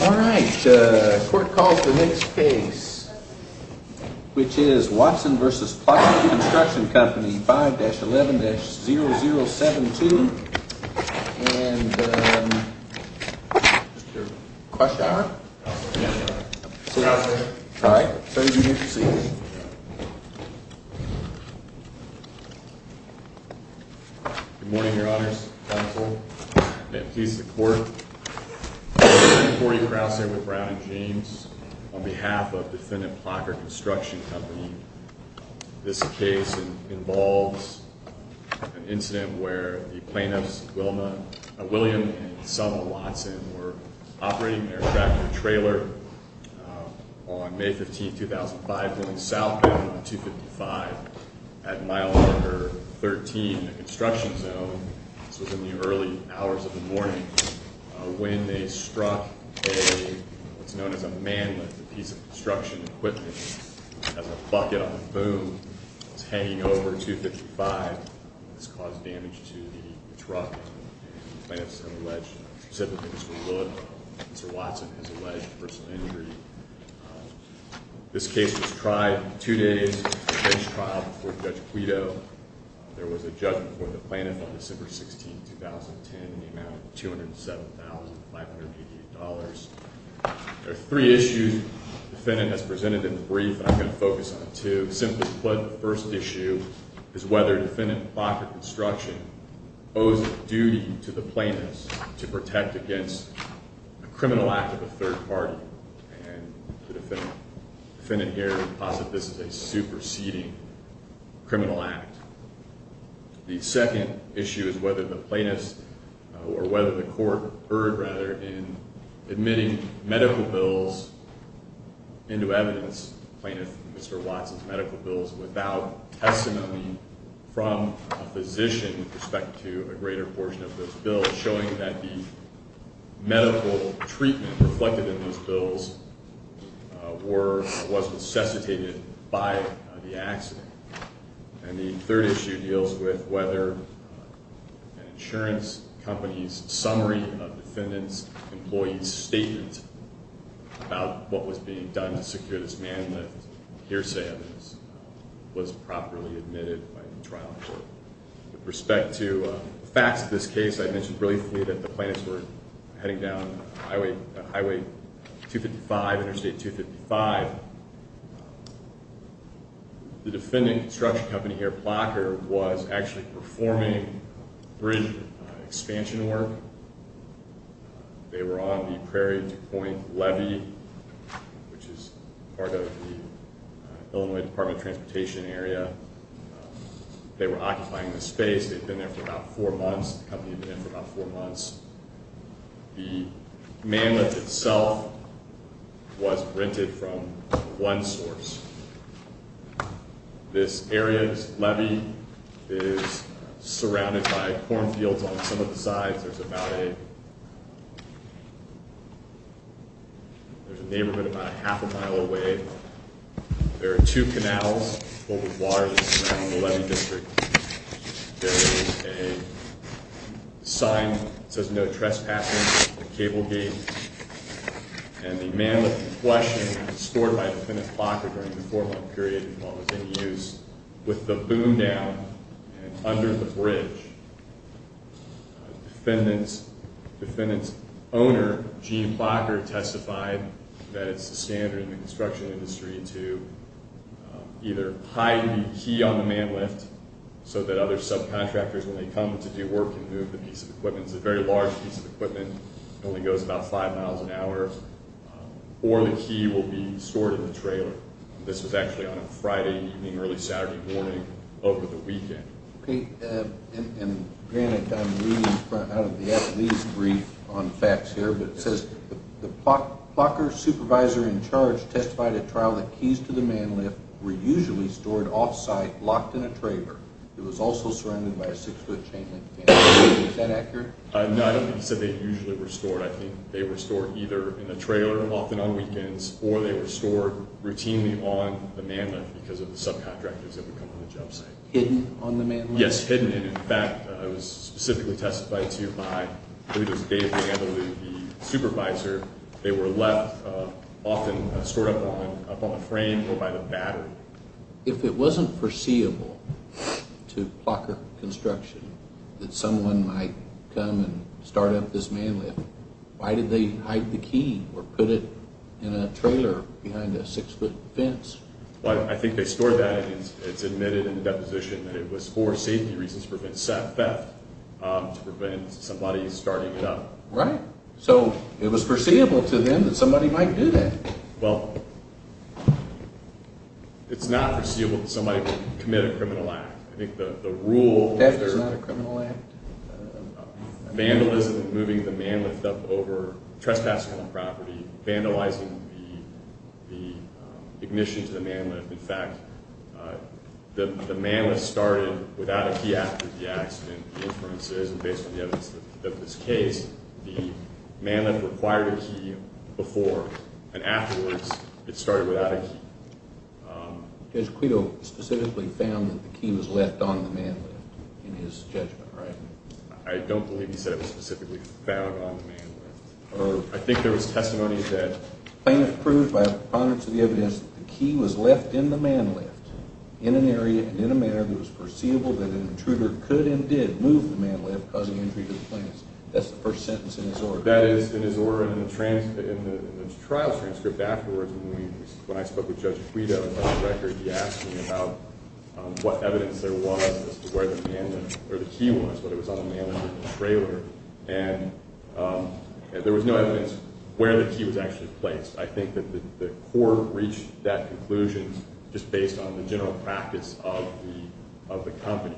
All right. Court calls the next case, which is Watson v. Plocher Construction Co. 5-11-0072. And, um, Mr. Cluchar? Yes, Your Honor. All right. Please be seated. Good morning, Your Honors. I'm told. May it please the Court, Before you cross here with Brown and James, on behalf of Defendant Plocher Construction Company, this case involves an incident where the plaintiffs, William and Selma Watson, were operating an aircraft with a trailer on May 15, 2005, going southbound on 255 at mile number 13 in the construction zone. This was in the early hours of the morning when they struck what's known as a man lift, a piece of construction equipment that has a bucket on the boom. It's hanging over 255. This caused damage to the truck, and the plaintiffs have alleged, specifically Mr. Wood, Mr. Watson, has alleged personal injury. This case was tried two days before the bench trial before Judge Guido. There was a judgment for the plaintiff on December 16, 2010, in the amount of $207,588. There are three issues the defendant has presented in the brief, and I'm going to focus on two. To put it simply, the first issue is whether Defendant Plocher Construction owes a duty to the plaintiffs to protect against a criminal act of a third party, and the defendant here would posit this is a superseding criminal act. The second issue is whether the plaintiffs or whether the court erred, rather, in admitting medical bills into evidence, plaintiff Mr. Watson's medical bills, without testimony from a physician with respect to a greater portion of those bills, showing that the medical treatment reflected in those bills was necessitated by the accident. And the third issue deals with whether an insurance company's summary of defendant's employee's statement about what was being done to secure this man lift hearsay was properly admitted by the trial court. With respect to facts of this case, I mentioned briefly that the plaintiffs were heading down Highway 255, Interstate 255. The defendant construction company here, Plocher, was actually performing bridge expansion work. They were on the Prairie Point Levee, which is part of the Illinois Department of Transportation area. They were occupying the space. They'd been there for about four months. The company had been there for about four months. The man lift itself was rented from one source. This area's levee is surrounded by cornfields on some of the sides. There's a neighborhood about a half a mile away. There are two canals full of water that surround the levee district. There is a sign that says no trespassing at the cable gate. And the man lift in question was restored by Defendant Plocher during the four-month period while it was in use. With the boom down and under the bridge, Defendant's owner, Gene Plocher, testified that it's the standard in the construction industry to either hide the key on the man lift so that other subcontractors, when they come to do work, can move the piece of equipment. It's a very large piece of equipment. It only goes about five miles an hour. Or the key will be stored in the trailer. This was actually on a Friday evening, early Saturday morning, over the weekend. And granted, I'm reading out of the athlete's brief on facts here, but it says, the Plocher supervisor in charge testified at trial that keys to the man lift were usually stored off-site, locked in a trailer. It was also surrounded by a six-foot chain link fence. Is that accurate? No, he said they usually were stored. I think they were stored either in the trailer, often on weekends, or they were stored routinely on the man lift because of the subcontractors that would come on the job site. Hidden on the man lift? Yes, hidden. And in fact, it was specifically testified to by, I believe it was Dave Campbell, the supervisor, they were left often stored up on a frame or by the battery. If it wasn't foreseeable to Plocher construction that someone might come and start up this man lift, why did they hide the key or put it in a trailer behind a six-foot fence? Well, I think they stored that, and it's admitted in the deposition that it was for safety reasons, to prevent theft, to prevent somebody starting it up. Right. So it was foreseeable to them that somebody might do that. Well, it's not foreseeable that somebody would commit a criminal act. I think the rule... Theft is not a criminal act. Vandalism, moving the man lift up over trespassing on property, vandalizing the ignition to the man lift. In fact, the man lift started without a key after the accident. The inference is, based on the evidence of this case, the man lift required a key before, and afterwards, it started without a key. Judge Quito specifically found that the key was left on the man lift in his judgment, right? I don't believe he said it was specifically found on the man lift. I think there was testimony that... Plaintiff proved by a preponderance of the evidence that the key was left in the man lift, in an area, in a manner that was perceivable that an intruder could and did move the man lift, causing injury to the plaintiff. That's the first sentence in his order. That is, in his order in the trial transcript afterwards, when I spoke with Judge Quito about the record, he asked me about what evidence there was as to where the key was, whether it was on the man lift or the trailer, and there was no evidence where the key was actually placed. I think that the court reached that conclusion just based on the general practice of the company.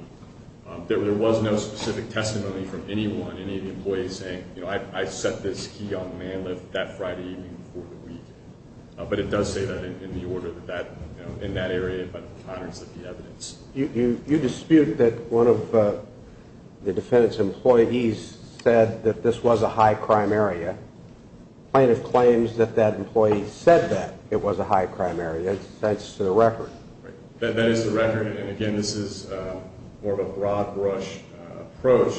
There was no specific testimony from anyone, any of the employees, saying, you know, I set this key on the man lift that Friday evening before the week. But it does say that in the order that that, you know, in that area, by a preponderance of the evidence. You dispute that one of the defendant's employees said that this was a high-crime area. The plaintiff claims that that employee said that it was a high-crime area. That's the record. Right. That is the record, and again, this is more of a broad-brush approach,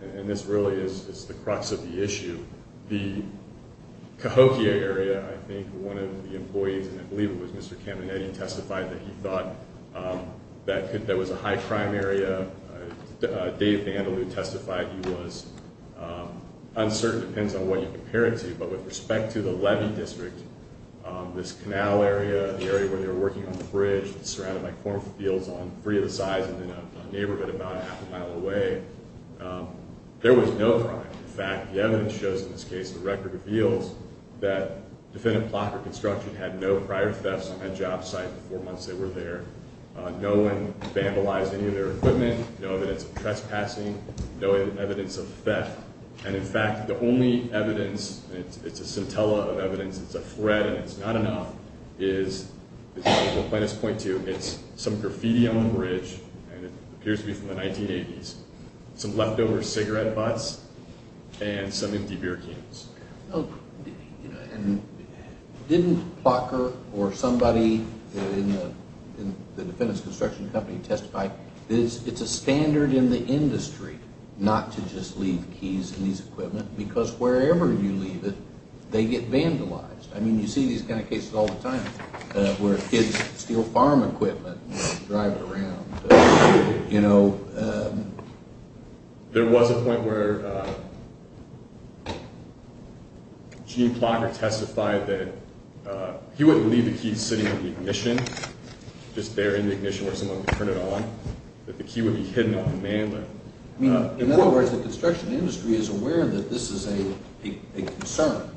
and this really is the crux of the issue. The Cahokia area, I think, one of the employees, and I believe it was Mr. Caminetti, testified that he thought that that was a high-crime area. Dave Vandalue testified he was uncertain, depends on what you compare it to, but with respect to the levee district, this canal area, the area where they were working on the bridge, surrounded by cornfields on three of the sides and in a neighborhood about half a mile away, there was no crime. In fact, the evidence shows in this case, the record reveals, that defendant Plocker Construction had no prior thefts on that job site the four months they were there, no one vandalized any of their equipment, no evidence of trespassing, no evidence of theft. And in fact, the only evidence, it's a scintilla of evidence, it's a threat, and it's not enough, is what plaintiffs point to, it's some graffiti on the bridge, and it appears to be from the 1980s, some leftover cigarette butts, and some empty beer cans. Didn't Plocker or somebody in the defendant's construction company testify, it's a standard in the industry not to just leave keys in these equipment, because wherever you leave it, they get vandalized. I mean, you see these kind of cases all the time, where kids steal farm equipment and drive it around. There was a point where Gene Plocker testified that he wouldn't leave the key sitting in the ignition, just there in the ignition where someone could turn it on, that the key would be hidden on the mandler. I mean, in other words, the construction industry is aware that this is a concern,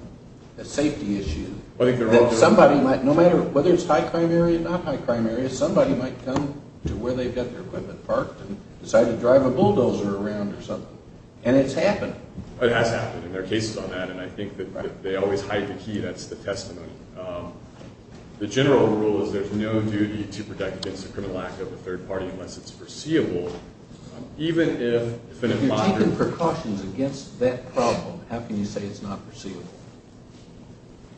a safety issue, that somebody might, no matter whether it's high crime area or not high crime area, somebody might come to where they've got their equipment parked and decide to drive a bulldozer around or something. And it's happened. It has happened, and there are cases on that, and I think that they always hide the key, that's the testimony. The general rule is there's no duty to protect against the criminal act of a third party unless it's foreseeable. If you're taking precautions against that problem, how can you say it's not foreseeable?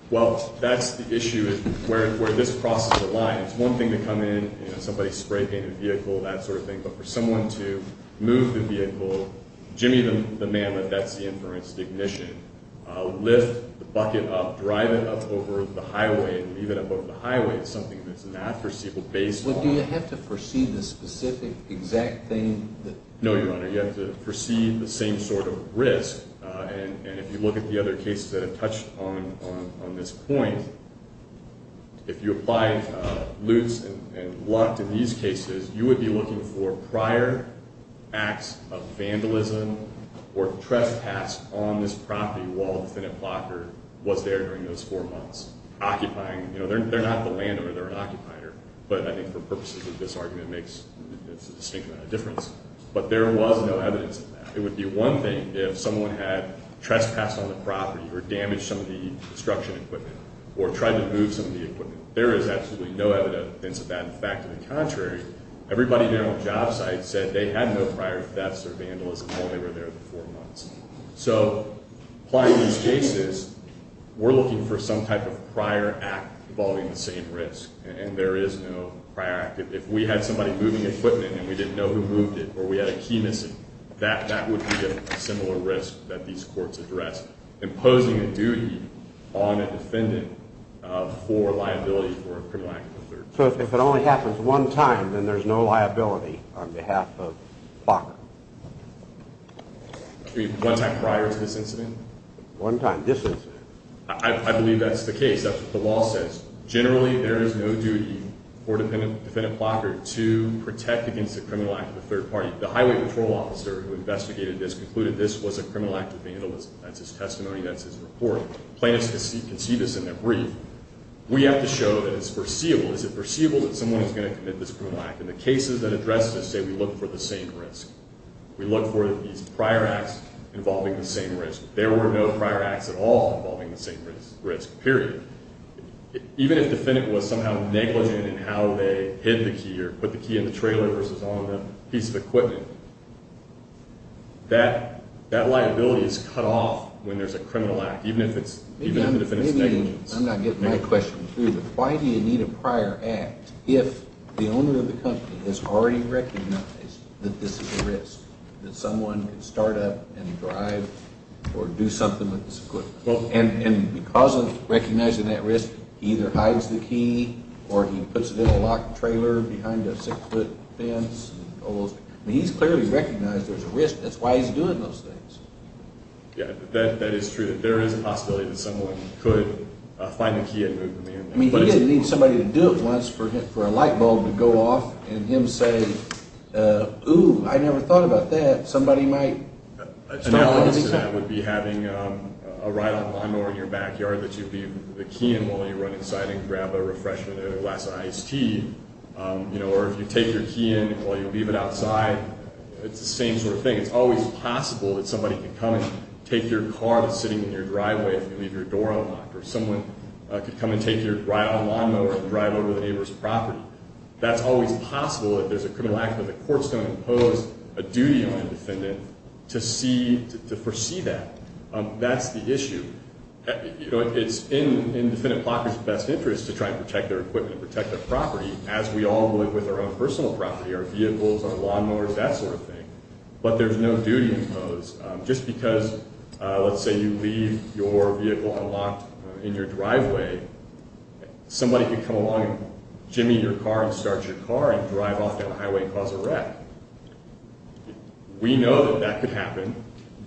Well, that's the issue where this crosses the line. It's one thing to come in and somebody spray paint a vehicle, that sort of thing, but for someone to move the vehicle, jimmy the manlet, that's the inference, the ignition, lift the bucket up, drive it up over the highway and leave it up over the highway is something that's not foreseeable. Well, do you have to foresee the specific exact thing? No, Your Honor, you have to foresee the same sort of risk. And if you look at the other cases that have touched on this point, if you apply Lutz and Lundt in these cases, you would be looking for prior acts of vandalism or trespass on this property while the Senate blocker was there during those four months. They're not the landowner, they're an occupier, but I think for purposes of this argument it makes a distinct difference. But there was no evidence of that. It would be one thing if someone had trespassed on the property or damaged some of the construction equipment or tried to move some of the equipment. There is absolutely no evidence of that. In fact, to the contrary, everybody there on the job site said they had no prior thefts or vandalism while they were there for four months. So applying these cases, we're looking for some type of prior act involving the same risk. And there is no prior act. If we had somebody moving equipment and we didn't know who moved it or we had a key missing, that would be a similar risk that these courts address, imposing a duty on a defendant for liability for a criminal act. So if it only happens one time, then there's no liability on behalf of the blocker? One time prior to this incident? One time this incident. I believe that's the case. That's what the law says. Generally, there is no duty for a defendant blocker to protect against a criminal act of the third party. The highway patrol officer who investigated this concluded this was a criminal act of vandalism. That's his testimony, that's his report. Plaintiffs can see this in their brief. We have to show that it's foreseeable. Is it foreseeable that someone is going to commit this criminal act? In the cases that address this, say we look for the same risk. We look for these prior acts involving the same risk. There were no prior acts at all involving the same risk, period. Even if the defendant was somehow negligent in how they hid the key or put the key in the trailer versus on the piece of equipment, that liability is cut off when there's a criminal act, even if the defendant is negligent. I'm not getting my question. Why do you need a prior act if the owner of the company has already recognized that this is a risk, that someone can start up and drive or do something with this equipment? And because of recognizing that risk, he either hides the key or he puts it in a locked trailer behind a six-foot fence. He's clearly recognized there's a risk. That's why he's doing those things. Yeah, that is true. There is a possibility that someone could find the key and move him in. I mean, he didn't need somebody to do it once for a light bulb to go off and him say, ooh, I never thought about that. Somebody might start all over again. An approach to that would be having a ride-on lawn mower in your backyard that you leave the key in while you run inside and grab a refreshment or a glass of iced tea. Or if you take your key in while you leave it outside, it's the same sort of thing. It's always possible that somebody could come and take your car that's sitting in your driveway if you leave your door unlocked, or someone could come and take your ride-on lawn mower and drive over the neighbor's property. That's always possible if there's a criminal act where the court's going to impose a duty on a defendant to foresee that. That's the issue. It's in the defendant's best interest to try and protect their equipment and protect their property, as we all live with our own personal property, our vehicles, our lawn mowers, that sort of thing. But there's no duty imposed. Just because, let's say, you leave your vehicle unlocked in your driveway, somebody could come along and jimmy your car and start your car and drive off down the highway and cause a wreck. We know that that could happen.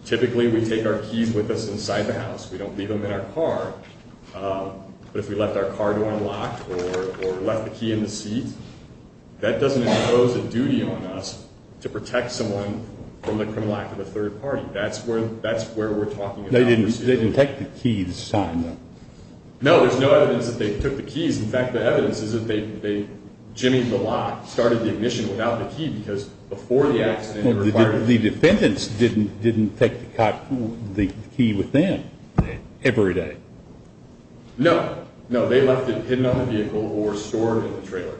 Typically, we take our keys with us inside the house. We don't leave them in our car. But if we left our car door unlocked or left the key in the seat, that doesn't impose a duty on us to protect someone from the criminal act of a third party. That's where we're talking about. They didn't take the key this time, though? No, there's no evidence that they took the keys. In fact, the evidence is that they jimmied the lock, started the ignition without the key, The defendants didn't take the key with them every day? No. No, they left it hidden on the vehicle or stored in the trailer,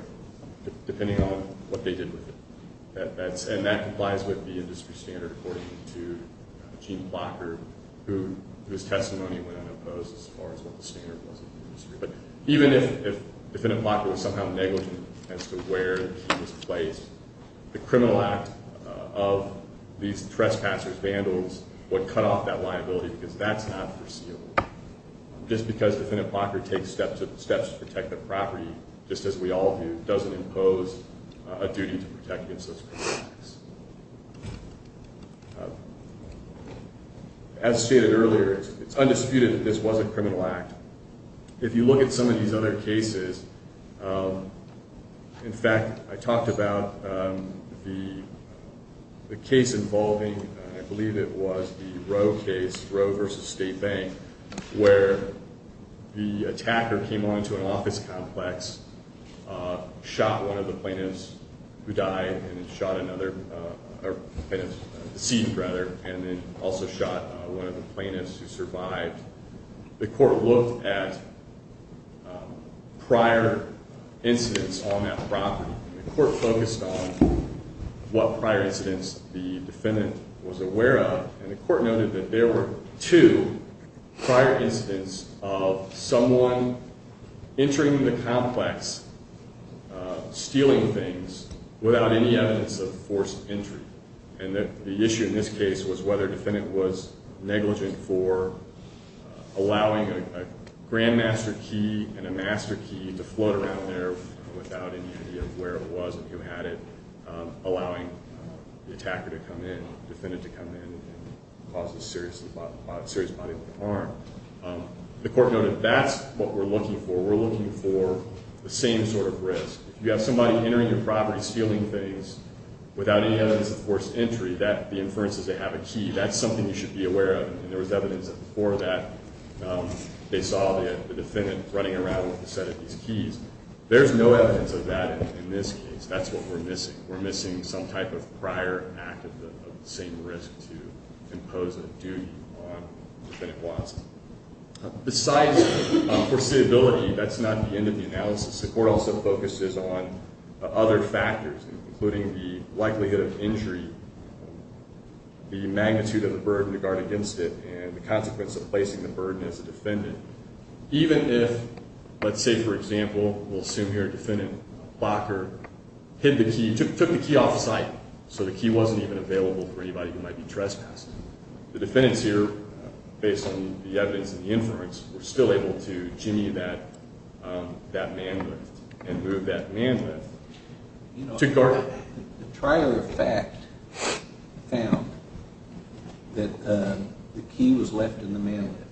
depending on what they did with it. And that complies with the industry standard according to Gene Blocker, whose testimony went unopposed as far as what the standard was in the industry. But even if Defendant Blocker was somehow negligent as to where the key was placed, the criminal act of these trespassers, vandals, would cut off that liability because that's not foreseeable. Just because Defendant Blocker takes steps to protect the property, just as we all do, doesn't impose a duty to protect against those criminal acts. As stated earlier, it's undisputed that this was a criminal act. If you look at some of these other cases, in fact, I talked about the case involving, I believe it was the Roe case, Roe v. State Bank, where the attacker came onto an office complex, shot one of the plaintiffs who died, and then shot another plaintiff, deceived rather, and then also shot one of the plaintiffs who survived. The court looked at prior incidents on that property. The court focused on what prior incidents the defendant was aware of, and the court noted that there were two prior incidents of someone entering the complex, stealing things, without any evidence of forced entry. And the issue in this case was whether the defendant was negligent for allowing a grandmaster key and a master key to float around there without any idea of where it was and who had it, allowing the attacker to come in, the defendant to come in, and cause a serious bodily harm. The court noted that's what we're looking for. We're looking for the same sort of risk. If you have somebody entering your property, stealing things, without any evidence of forced entry, the inference is they have a key. That's something you should be aware of, and there was evidence before that they saw the defendant running around with a set of these keys. There's no evidence of that in this case. That's what we're missing. We're missing some type of prior act of the same risk to impose a duty on the defendant wants it. Besides foreseeability, that's not the end of the analysis. The court also focuses on other factors, including the likelihood of injury, the magnitude of the burden to guard against it, and the consequence of placing the burden as a defendant. Even if, let's say for example, we'll assume here a defendant, Bacher, hid the key, took the key off the site so the key wasn't even available for anybody who might be trespassed. The defendants here, based on the evidence and the inference, were still able to jimmy that man lift and move that man lift to guard. The prior fact found that the key was left in the man lift.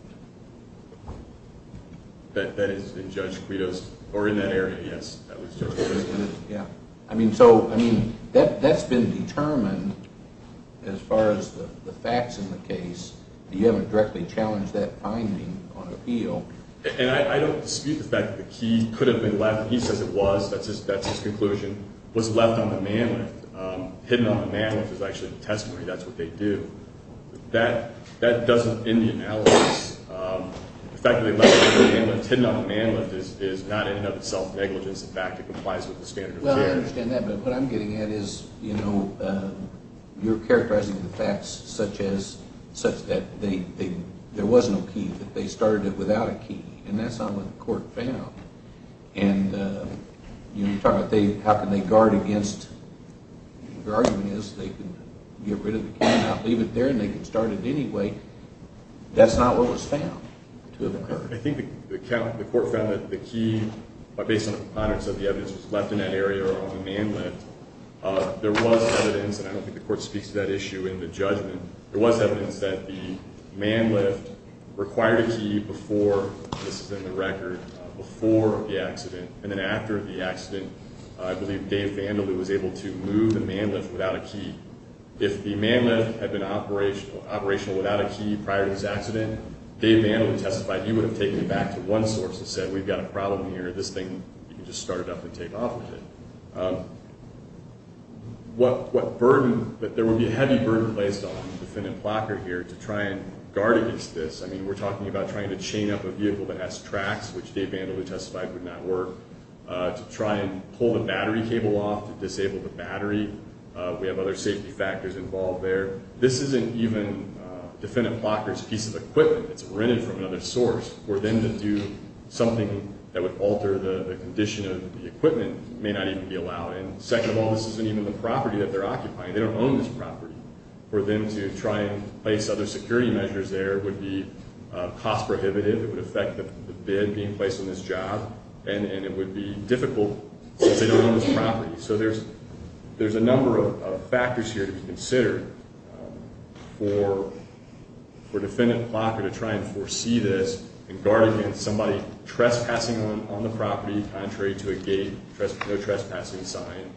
That is in Judge Credo's, or in that area, yes. I mean, so that's been determined as far as the facts in the case. You haven't directly challenged that finding on appeal. And I don't dispute the fact that the key could have been left. He says it was. That's his conclusion. It was left on the man lift. Hidden on the man lift is actually the testimony. That's what they do. That doesn't end the analysis. The fact that they left it on the man lift, hidden on the man lift, is not in and of itself negligent. In fact, it complies with the standard of care. Well, I understand that. But what I'm getting at is, you know, you're characterizing the facts such that there was no key, that they started it without a key, and that's not what the court found. And, you know, you're talking about how can they guard against. Their argument is they can get rid of the key and not leave it there and they can start it anyway. That's not what was found to have occurred. I think the court found that the key, based on the evidence that was left in that area on the man lift, there was evidence, and I don't think the court speaks to that issue in the judgment, there was evidence that the man lift required a key before, this is in the record, before the accident. And then after the accident, I believe Dave Vandily was able to move the man lift without a key. If the man lift had been operational without a key prior to this accident, Dave Vandily testified he would have taken it back to one source and said, we've got a problem here, this thing, you can just start it up and take off with it. What burden, that there would be a heavy burden placed on defendant Plocker here to try and guard against this, I mean, we're talking about trying to chain up a vehicle that has tracks, which Dave Vandily testified would not work, to try and pull the battery cable off to disable the battery. We have other safety factors involved there. This isn't even defendant Plocker's piece of equipment that's rented from another source. For them to do something that would alter the condition of the equipment may not even be allowed. And second of all, this isn't even the property that they're occupying, they don't own this property. For them to try and place other security measures there would be cost prohibitive, it would affect the bid being placed on this job, and it would be difficult since they don't own this property. So there's a number of factors here to be considered for defendant Plocker to try and foresee this and guard against somebody trespassing on the property contrary to a gate, no trespassing sign,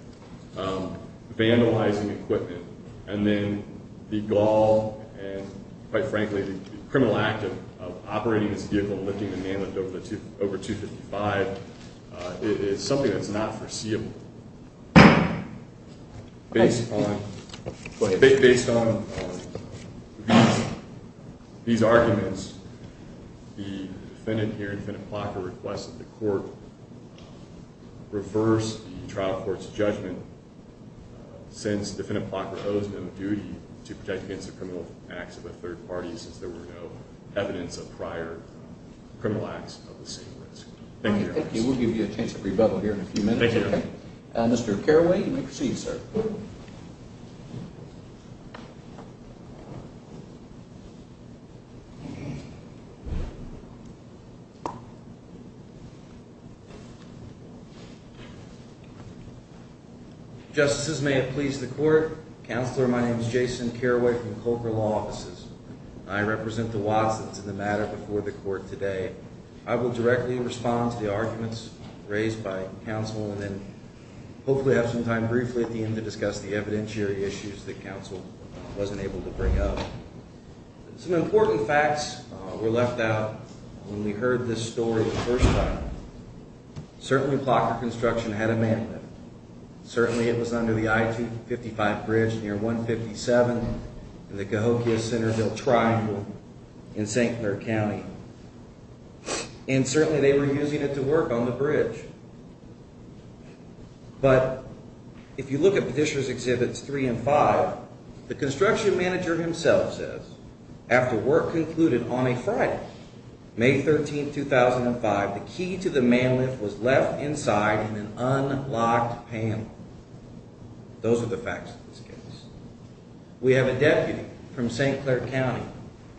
vandalizing equipment. And then the gall and, quite frankly, the criminal act of operating this vehicle and lifting the man lift over 255 is something that's not foreseeable. Based on these arguments, the defendant here, defendant Plocker, requested the court reverse the trial court's judgment since defendant Plocker owes no duty to protect against the criminal acts of a third party since there were no evidence of prior criminal acts of the same risk. Thank you. Thank you. We'll give you a chance to rebuttal here in a few minutes. Thank you. Mr. Caraway, you may proceed, sir. Justices, may it please the court. Counselor, my name is Jason Caraway from Culver Law Offices. I represent the Watsons in the matter before the court today. I will directly respond to the arguments raised by counsel and then hopefully have some time briefly at the end to discuss the evidentiary issues that counsel wasn't able to bring up. Some important facts were left out when we heard this story the first time. Certainly, Plocker Construction had a man lift. Certainly, it was under the I-55 bridge near 157 in the Cahokia-Centerville Triangle in St. Clair County. And certainly, they were using it to work on the bridge. But if you look at Petitioners' Exhibits 3 and 5, the construction manager himself says, After work concluded on a Friday, May 13, 2005, the key to the man lift was left inside in an unlocked panel. Those are the facts of this case. We have a deputy from St. Clair County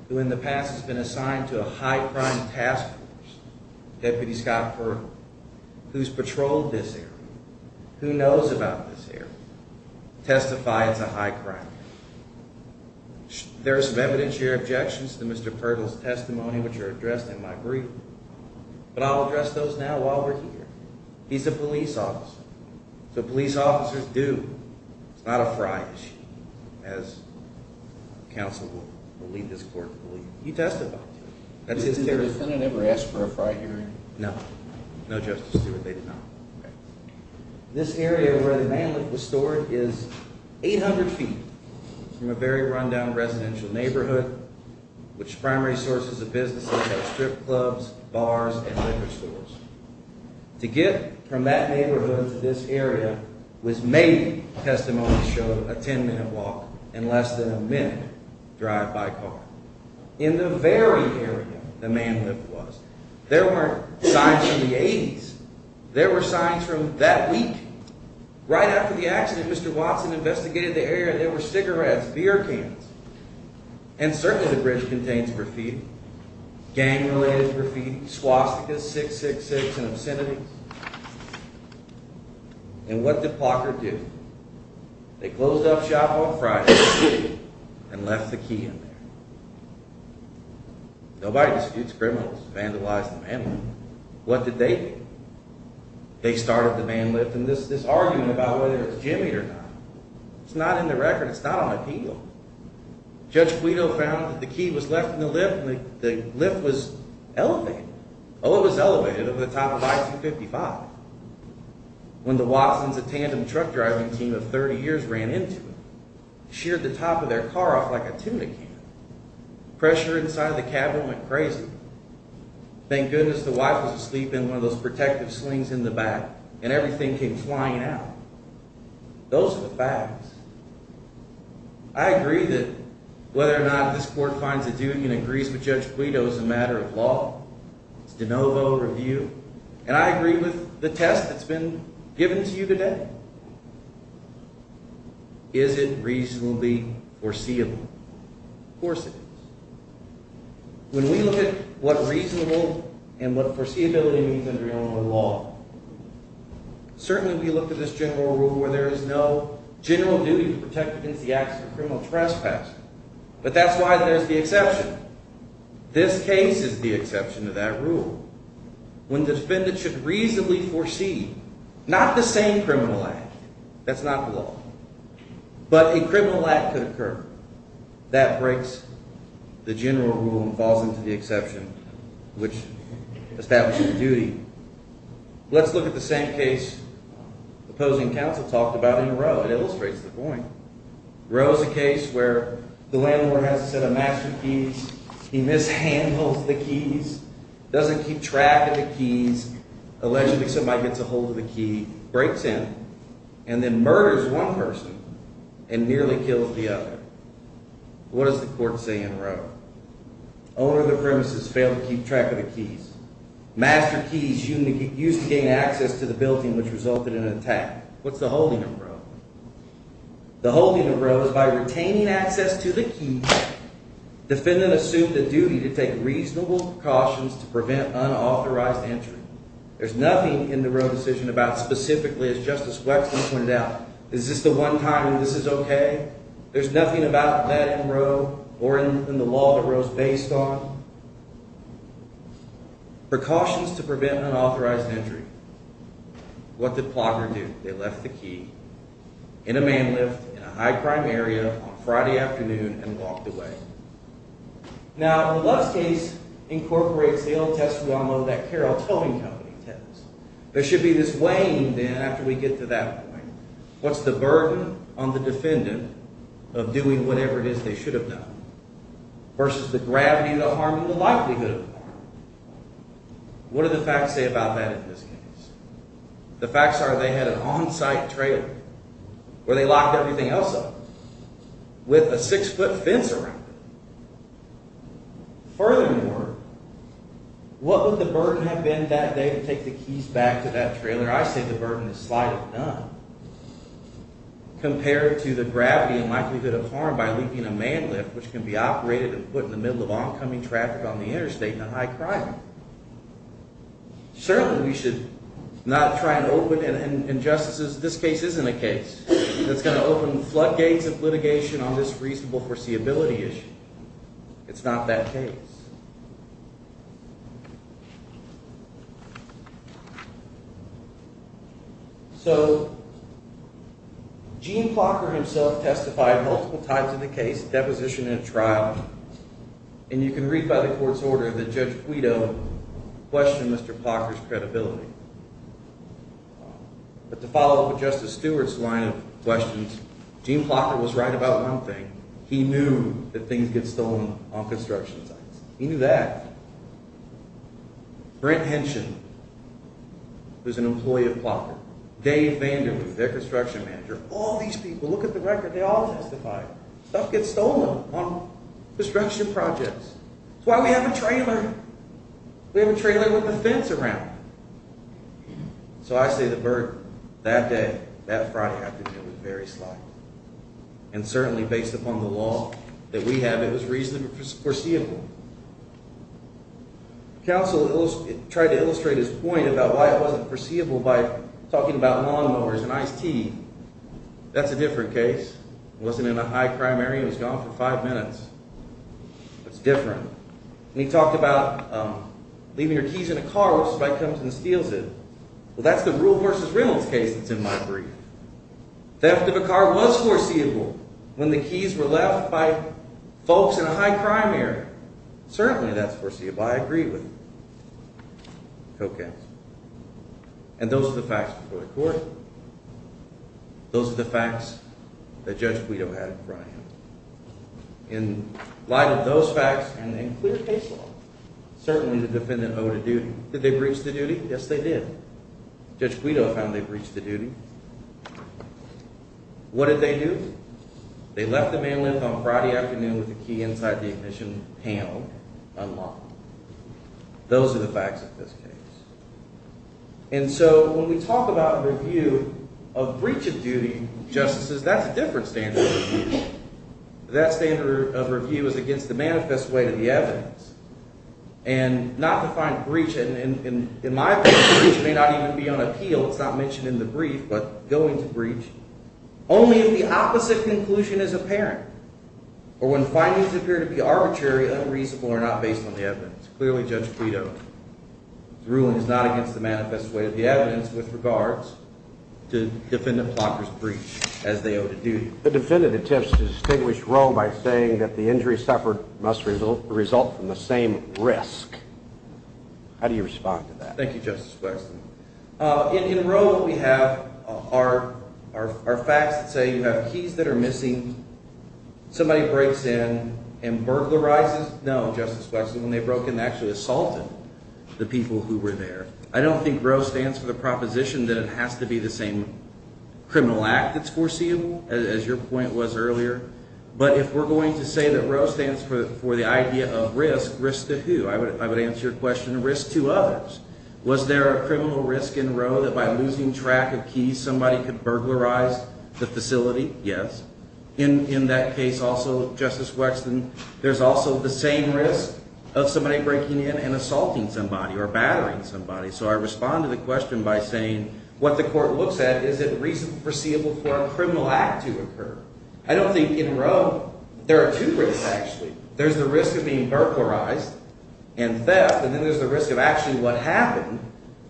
who in the past has been assigned to a high crime task force. Deputy Scott Perkle, who's patrolled this area, who knows about this area, testifies it's a high crime. There are some evidentiary objections to Mr. Perkle's testimony, which are addressed in my brief. But I'll address those now while we're here. He's a police officer, so police officers do. It's not a fry issue, as counsel will lead this court to believe. He testified to it. That's his testimony. Did the defendant ever ask for a fry hearing? No. No, Justice Stewart, they did not. This area where the man lift was stored is 800 feet from a very run-down residential neighborhood, which primary sources of business include strip clubs, bars, and liquor stores. To get from that neighborhood to this area was made, testimonies show, a 10-minute walk and less than a minute drive by car. In the very area the man lift was, there weren't signs from the 80s. There were signs from that week. Right after the accident, Mr. Watson investigated the area, and there were cigarettes, beer cans, and certainly the bridge contains graffiti, gang-related graffiti, swastikas, 666s, and obscenities. And what did Parker do? They closed up shop on Friday and left the key in there. Nobody disputes criminals vandalize the man lift. What did they do? They started the man lift, and this argument about whether it's jimmied or not, it's not in the record. It's not on the P-Glo. Judge Guido found that the key was left in the lift, and the lift was elevated. Oh, it was elevated over the time of I-255. When the Watsons, a tandem truck driving team of 30 years, ran into it, sheared the top of their car off like a tuna can. Pressure inside the cabin went crazy. Thank goodness the wife was asleep in one of those protective slings in the back, and everything came flying out. Those are the facts. I agree that whether or not this court finds a duty and agrees with Judge Guido is a matter of law. It's de novo review. And I agree with the test that's been given to you today. Is it reasonably foreseeable? Of course it is. When we look at what reasonable and what foreseeability means under Illinois law, certainly we look at this general rule where there is no general duty to protect against the acts of a criminal trespass, but that's why there's the exception. This case is the exception to that rule. When defendants should reasonably foresee not the same criminal act, that's not the law, but a criminal act could occur. That breaks the general rule and falls into the exception which establishes the duty. Let's look at the same case opposing counsel talked about in Roe. It illustrates the point. Roe is a case where the landlord has a set of mastery keys. He mishandles the keys, doesn't keep track of the keys, allegedly somebody gets a hold of the key, breaks in, and then murders one person and nearly kills the other. What does the court say in Roe? Owner of the premises failed to keep track of the keys. Master keys used to gain access to the building which resulted in an attack. What's the holding of Roe? The holding of Roe is by retaining access to the keys, defendant assumed the duty to take reasonable precautions to prevent unauthorized entry. There's nothing in the Roe decision about specifically, as Justice Wexler pointed out, is this the one time when this is okay? There's nothing about that in Roe or in the law that Roe is based on. Precautions to prevent unauthorized entry. What did Plotner do? They left the key in a man lift in a high crime area on Friday afternoon and walked away. Now, in Love's case incorporates the old test we all know, that Carroll Towing Company test. There should be this weighing then after we get to that point. What's the burden on the defendant of doing whatever it is they should have done versus the gravity of the harm and the likelihood of the harm? What do the facts say about that in this case? The facts are they had an on-site trailer where they locked everything else up with a six-foot fence around it. Furthermore, what would the burden have been that day to take the keys back to that trailer? I say the burden is slight of none compared to the gravity and likelihood of harm by leaving a man lift which can be operated and put in the middle of oncoming traffic on the interstate in a high crime area. Certainly, we should not try and open injustices. This case isn't a case that's going to open floodgates of litigation on this reasonable foreseeability issue. It's not that case. So, Gene Plocker himself testified multiple times in the case, deposition, and trial. And you can read by the court's order that Judge Guido questioned Mr. Plocker's credibility. But to follow up with Justice Stewart's line of questions, Gene Plocker was right about one thing. He knew that things get stolen on construction sites. He knew that. Brent Henschen, who's an employee of Plocker, Dave Vanderwood, their construction manager, all these people, look at the record, they all testified. Stuff gets stolen on construction projects. That's why we have a trailer. We have a trailer with a fence around it. So I say the burden that day, that Friday afternoon, was very slight. And certainly based upon the law that we have, it was reasonably foreseeable. Counsel tried to illustrate his point about why it wasn't foreseeable by talking about lawnmowers and iced tea. That's a different case. It wasn't in a high crime area. It was gone for five minutes. It's different. And he talked about leaving your keys in a car where somebody comes and steals it. Well, that's the Rule v. Reynolds case that's in my brief. Theft of a car was foreseeable when the keys were left by folks in a high crime area. Certainly that's foreseeable. I agree with it. Okay. And those are the facts before the court. Those are the facts that Judge Guido had in front of him. In light of those facts and in clear case law, certainly the defendant owed a duty. Did they breach the duty? Yes, they did. Judge Guido found they breached the duty. What did they do? They left the man lift on Friday afternoon with the key inside the ignition panel unlocked. Those are the facts of this case. And so when we talk about review of breach of duty, justices, that's a different standard. That standard of review is against the manifest way to the evidence and not to find breach. And in my opinion, breach may not even be on appeal. It's not mentioned in the brief, but going to breach only if the opposite conclusion is apparent or when findings appear to be arbitrary, unreasonable, or not based on the evidence. Clearly, Judge Guido, the ruling is not against the manifest way of the evidence with regards to defendant Plocker's breach as they owed a duty. The defendant attempts to distinguish Roe by saying that the injury suffered must result from the same risk. How do you respond to that? Thank you, Justice Wexler. In Roe, we have our facts that say you have keys that are missing. Somebody breaks in and burglarizes. No, Justice Wexler, when they broke in, they actually assaulted the people who were there. I don't think Roe stands for the proposition that it has to be the same criminal act that's foreseeable, as your point was earlier. But if we're going to say that Roe stands for the idea of risk, risk to who? I would answer your question, risk to others. Was there a criminal risk in Roe that by losing track of keys, somebody could burglarize the facility? Yes. In that case also, Justice Wexler, there's also the same risk of somebody breaking in and assaulting somebody or battering somebody. So I respond to the question by saying what the court looks at, is it reasonable for a criminal act to occur? I don't think in Roe there are two risks, actually. There's the risk of being burglarized and theft, and then there's the risk of actually what happened,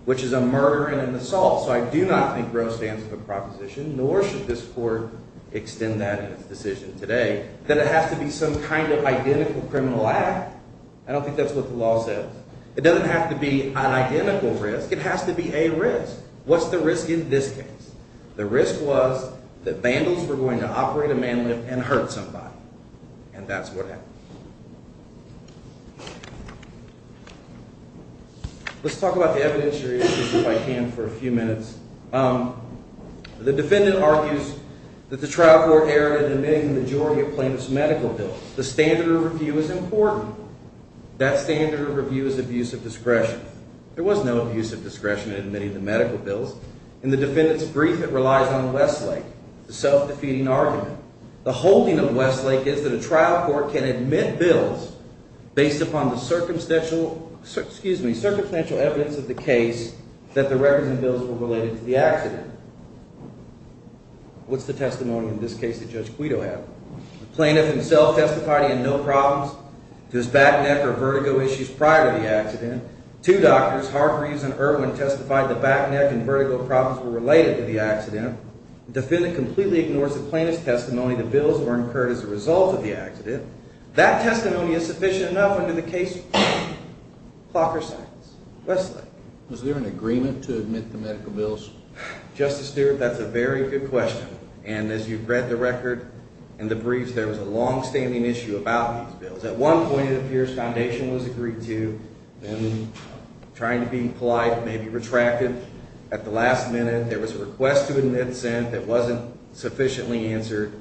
which is a murder and an assault. So I do not think Roe stands for the proposition, nor should this court extend that in its decision today, that it has to be some kind of identical criminal act. I don't think that's what the law says. It doesn't have to be an identical risk. It has to be a risk. What's the risk in this case? The risk was that vandals were going to operate a man lift and hurt somebody, and that's what happened. Let's talk about the evidentiary issues if I can for a few minutes. The defendant argues that the trial court erred in admitting the majority of plaintiff's medical bills. The standard of review is important. That standard of review is abuse of discretion. There was no abuse of discretion in admitting the medical bills. In the defendant's brief, it relies on Westlake, the self-defeating argument. The holding of Westlake is that a trial court can admit bills based upon the circumstantial evidence of the case that the records and bills were related to the accident. What's the testimony in this case that Judge Quito had? The plaintiff himself testified he had no problems with his back neck or vertigo issues prior to the accident. Two doctors, Hargreaves and Irwin, testified the back neck and vertigo problems were related to the accident. The defendant completely ignores the plaintiff's testimony the bills were incurred as a result of the accident. That testimony is sufficient enough under the case clocker sentence. Westlake? Was there an agreement to admit the medical bills? Justice Stewart, that's a very good question. And as you've read the record in the briefs, there was a longstanding issue about these bills. At one point, it appears foundation was agreed to. Then, trying to be polite, maybe retracted at the last minute, there was a request to admit sent that wasn't sufficiently answered.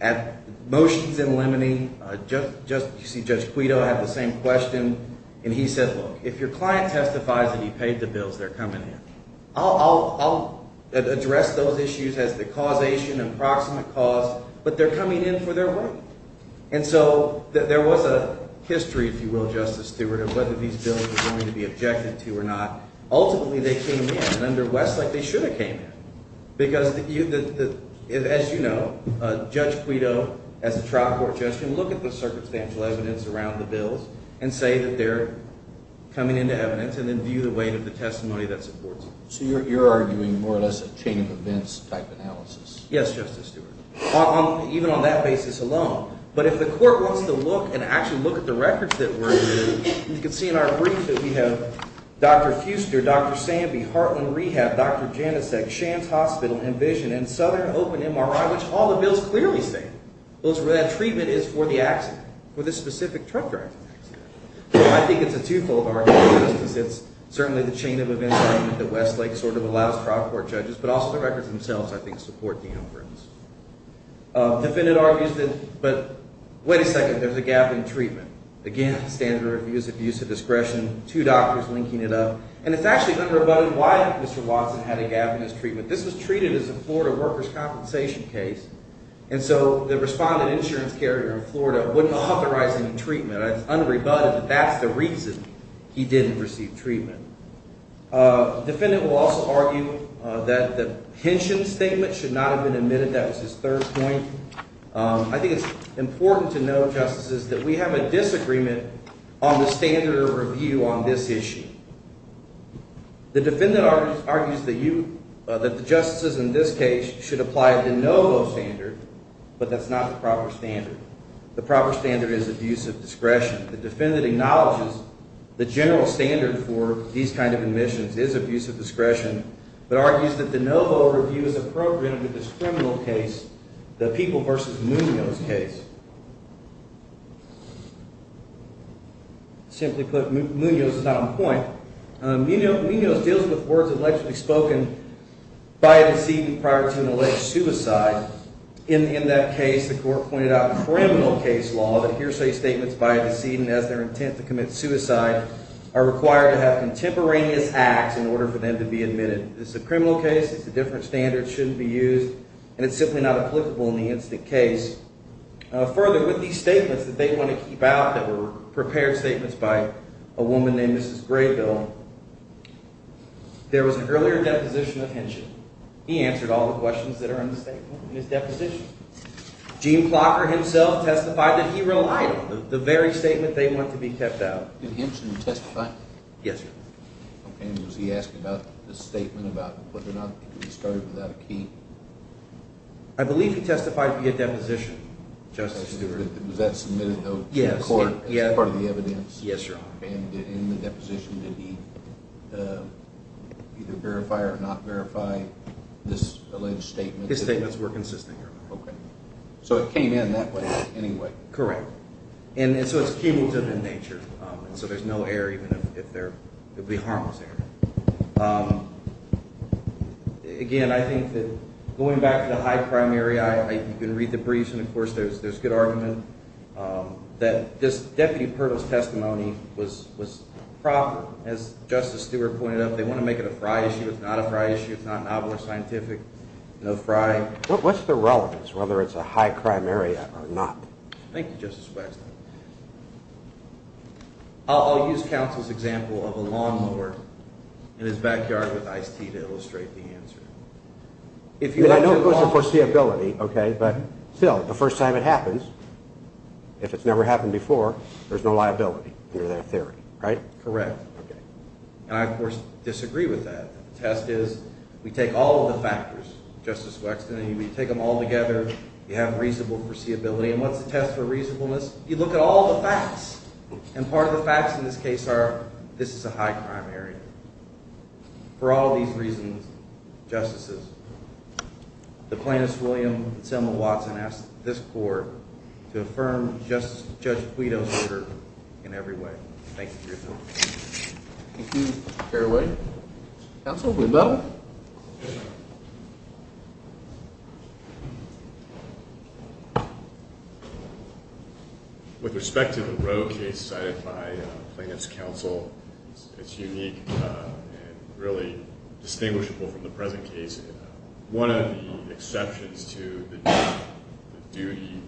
At motions in limine, you see Judge Quito had the same question. And he said, look, if your client testifies that he paid the bills, they're coming in. I'll address those issues as the causation, approximate cause, but they're coming in for their right. And so there was a history, if you will, Justice Stewart, of whether these bills were going to be objected to or not. Ultimately, they came in. And under Westlake, they should have came in. Because, as you know, Judge Quito, as a trial court judge, can look at the circumstantial evidence around the bills and say that they're coming into evidence and then view the weight of the testimony that supports it. So you're arguing more or less a chain of events type analysis? Yes, Justice Stewart. Even on that basis alone. But if the court wants to look and actually look at the records that were in, you can see in our brief that we have Dr. Fuster, Dr. Samby, Heartland Rehab, Dr. Janicek, Shands Hospital, Envision, and Southern Open MRI, which all the bills clearly state that treatment is for the accident, for the specific truck driver. So I think it's a twofold argument, Justice. It's certainly the chain of events argument that Westlake sort of allows trial court judges, but also the records themselves, I think, support the inference. Defendant argues that, but wait a second, there's a gap in treatment. Again, standard of abuse, abuse of discretion, two doctors linking it up. And it's actually unrebutted why Mr. Watson had a gap in his treatment. This was treated as a Florida workers' compensation case. And so the respondent insurance carrier in Florida wouldn't authorize any treatment. It's unrebutted that that's the reason he didn't receive treatment. Defendant will also argue that the pension statement should not have been admitted. That was his third point. I think it's important to know, Justices, that we have a disagreement on the standard of review on this issue. The defendant argues that the Justices in this case should apply a de novo standard, but that's not the proper standard. The proper standard is abuse of discretion. The defendant acknowledges the general standard for these kind of admissions is abuse of discretion, but argues that the de novo review is appropriate with this criminal case, the People v. Munoz case. Simply put, Munoz is not on point. Munoz deals with words allegedly spoken by a decedent prior to an alleged suicide. In that case, the court pointed out criminal case law that hearsay statements by a decedent as their intent to commit suicide are required to have contemporaneous acts in order for them to be admitted. It's a criminal case. It's a different standard. It shouldn't be used. And it's simply not applicable in the instant case. Further, with these statements that they want to keep out that were prepared statements by a woman named Mrs. Graybill, there was an earlier deposition of henshin. He answered all the questions that are in the statement in his deposition. Gene Clocker himself testified that he relied on the very statement they want to be kept out. Did henshin testify? Yes, sir. And was he asking about the statement about whether or not he started without a key? I believe he testified via deposition, Justice Stewart. Was that submitted, though, to the court as part of the evidence? Yes, Your Honor. And in the deposition, did he either verify or not verify this alleged statement? His statements were consistent, Your Honor. Okay. So it came in that way anyway. Correct. And so it's cumulative in nature, and so there's no error even if there would be harmless error. Again, I think that going back to the high primary, you can read the briefs, and, of course, there's good argument, that this deputy Pirtle's testimony was proper. As Justice Stewart pointed out, they want to make it a fry issue. It's not a fry issue. It's not novel or scientific. No fry. What's the relevance, whether it's a high primary or not? Thank you, Justice Waxman. I'll use counsel's example of a lawnmower in his backyard with iced tea to illustrate the answer. I know it goes to foreseeability, okay, but still, the first time it happens, if it's never happened before, there's no liability under that theory, right? Correct. And I, of course, disagree with that. The test is we take all of the factors, Justice Waxman, and we take them all together. You have reasonable foreseeability, and what's the test for reasonableness? You look at all the facts, and part of the facts in this case are this is a high primary. For all these reasons, Justices, the Plaintiffs' William and Selma Watson ask this court to affirm Judge Guido's order in every way. Thank you for your time. Thank you. Fairway? Counsel? Guido? With respect to the Roe case cited by Plaintiffs' counsel, it's unique and really distinguishable from the present case. One of the exceptions to the duty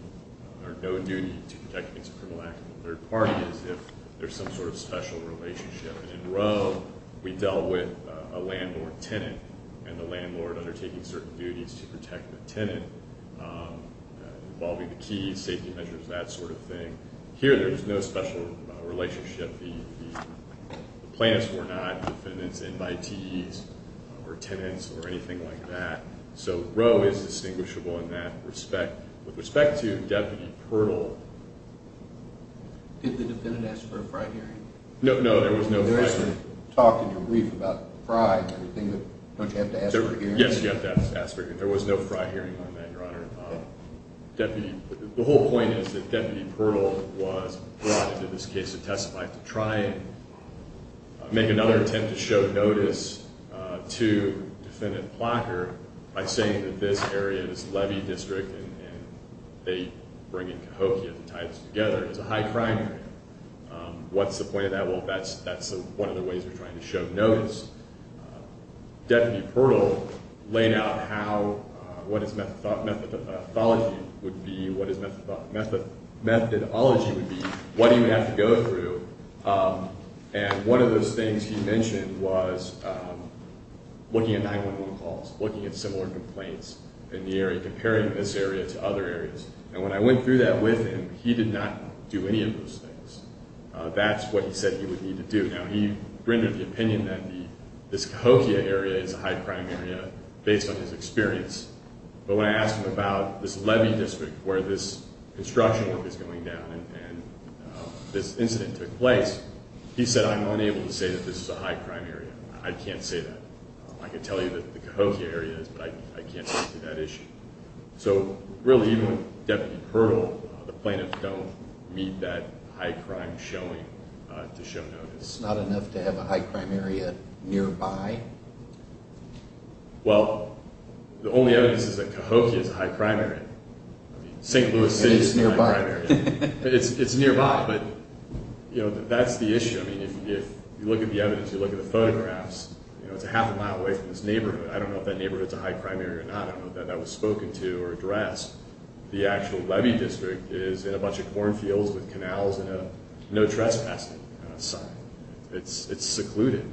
or no duty to protect against a criminal act of the third party is if there's some sort of special relationship. In Roe, we dealt with a landlord-tenant, and the landlord undertaking certain duties to protect the tenant involving the keys, safety measures, that sort of thing. Here, there was no special relationship. The plaintiffs were not defendants, invitees, or tenants, or anything like that. So Roe is distinguishable in that respect. With respect to Deputy Pirtle— Did the defendant ask for a frat hearing? No, there was no frat hearing. There was a talk in your brief about the fry and everything. Don't you have to ask for a hearing? Yes, you have to ask for a hearing. There was no frat hearing on that, Your Honor. The whole point is that Deputy Pirtle was brought into this case to testify to try and make another attempt to show notice to defendant Plotker by saying that this area, this levy district, and they bring in Cahokia to tie this together, is a high crime area. What's the point of that? Well, that's one of the ways we're trying to show notice. Deputy Pirtle laid out what his methodology would be, what his methodology would be, what he would have to go through. And one of those things he mentioned was looking at 911 calls, looking at similar complaints in the area, comparing this area to other areas. And when I went through that with him, he did not do any of those things. That's what he said he would need to do. Now, he rendered the opinion that this Cahokia area is a high crime area based on his experience. But when I asked him about this levy district where this construction work is going down and this incident took place, he said, I'm unable to say that this is a high crime area. I can't say that. I can tell you that the Cahokia area is, but I can't speak to that issue. So really, Deputy Pirtle, the plaintiffs don't need that high crime showing to show notice. It's not enough to have a high crime area nearby? Well, the only evidence is that Cahokia is a high crime area. I mean, St. Louis City is a high crime area. And it's nearby. It's nearby, but that's the issue. I mean, if you look at the evidence, you look at the photographs, it's a half a mile away from this neighborhood. I don't know if that neighborhood is a high crime area or not. I don't know if that was spoken to or addressed. The actual levy district is in a bunch of cornfields with canals and no trespassing sign. It's secluded.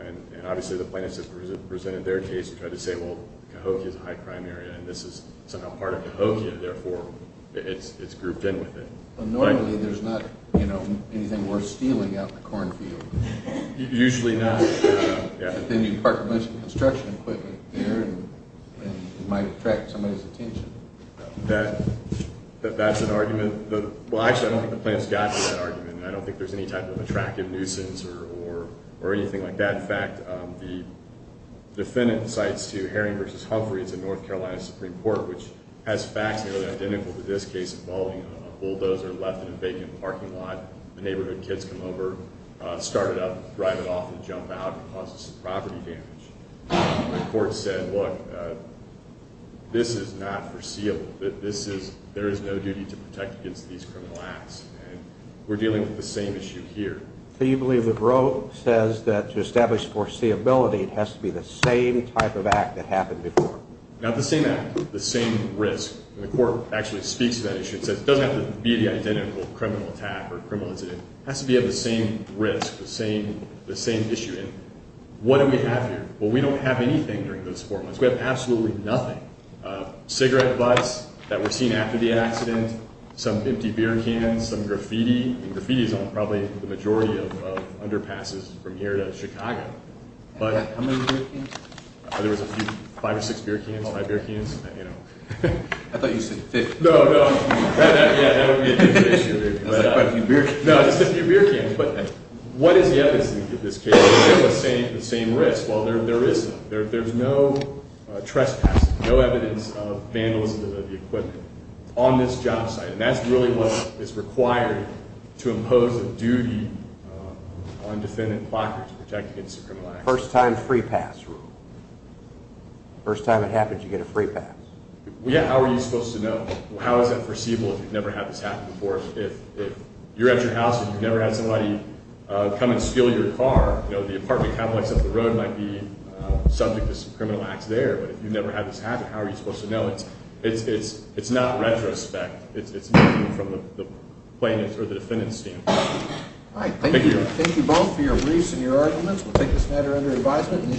And obviously, the plaintiffs have presented their case and tried to say, well, Cahokia is a high crime area, and this is somehow part of Cahokia. Therefore, it's grouped in with it. Normally, there's not anything worth stealing out in the cornfield. Usually not. But then you park a bunch of construction equipment there, and it might attract somebody's attention. That's an argument. Well, actually, I don't think the plaintiffs got to that argument, and I don't think there's any type of attractive nuisance or anything like that. In fact, the defendant cites to Herring v. Humphrey. It's a North Carolina Supreme Court, which has facts that are identical to this case involving a bulldozer left in a vacant parking lot. The neighborhood kids come over, start it up, drive it off, and jump out and cause us some property damage. The court said, look, this is not foreseeable. There is no duty to protect against these criminal acts. And we're dealing with the same issue here. So you believe that Roe says that to establish foreseeability, it has to be the same type of act that happened before? Not the same act, the same risk. And the court actually speaks to that issue and says it doesn't have to be the identical criminal attack or criminal incident. It has to be of the same risk, the same issue. And what do we have here? Well, we don't have anything during those four months. We have absolutely nothing. Cigarette butts that were seen after the accident, some empty beer cans, some graffiti. And graffiti is on probably the majority of underpasses from here to Chicago. How many beer cans? There was a few, five or six beer cans, five beer cans. I thought you said 50. No, no. That would be a different issue. Just a few beer cans. No, just a few beer cans. But what is the evidence in this case? It's still the same risk. Well, there is none. There's no trespassing, no evidence of vandalism of the equipment on this job site. And that's really what is required to impose a duty on defendant blockers to protect against a criminal act. First time free pass rule. First time it happens, you get a free pass. Yeah, how are you supposed to know? How is that foreseeable if you've never had this happen before? If you're at your house and you've never had somebody come and steal your car, the apartment complex up the road might be subject to some criminal acts there. But if you've never had this happen, how are you supposed to know? It's not retrospect. It's nothing from the plaintiff's or the defendant's standpoint. All right. Thank you. Thank you both for your briefs and your arguments. We'll take this matter under advisement.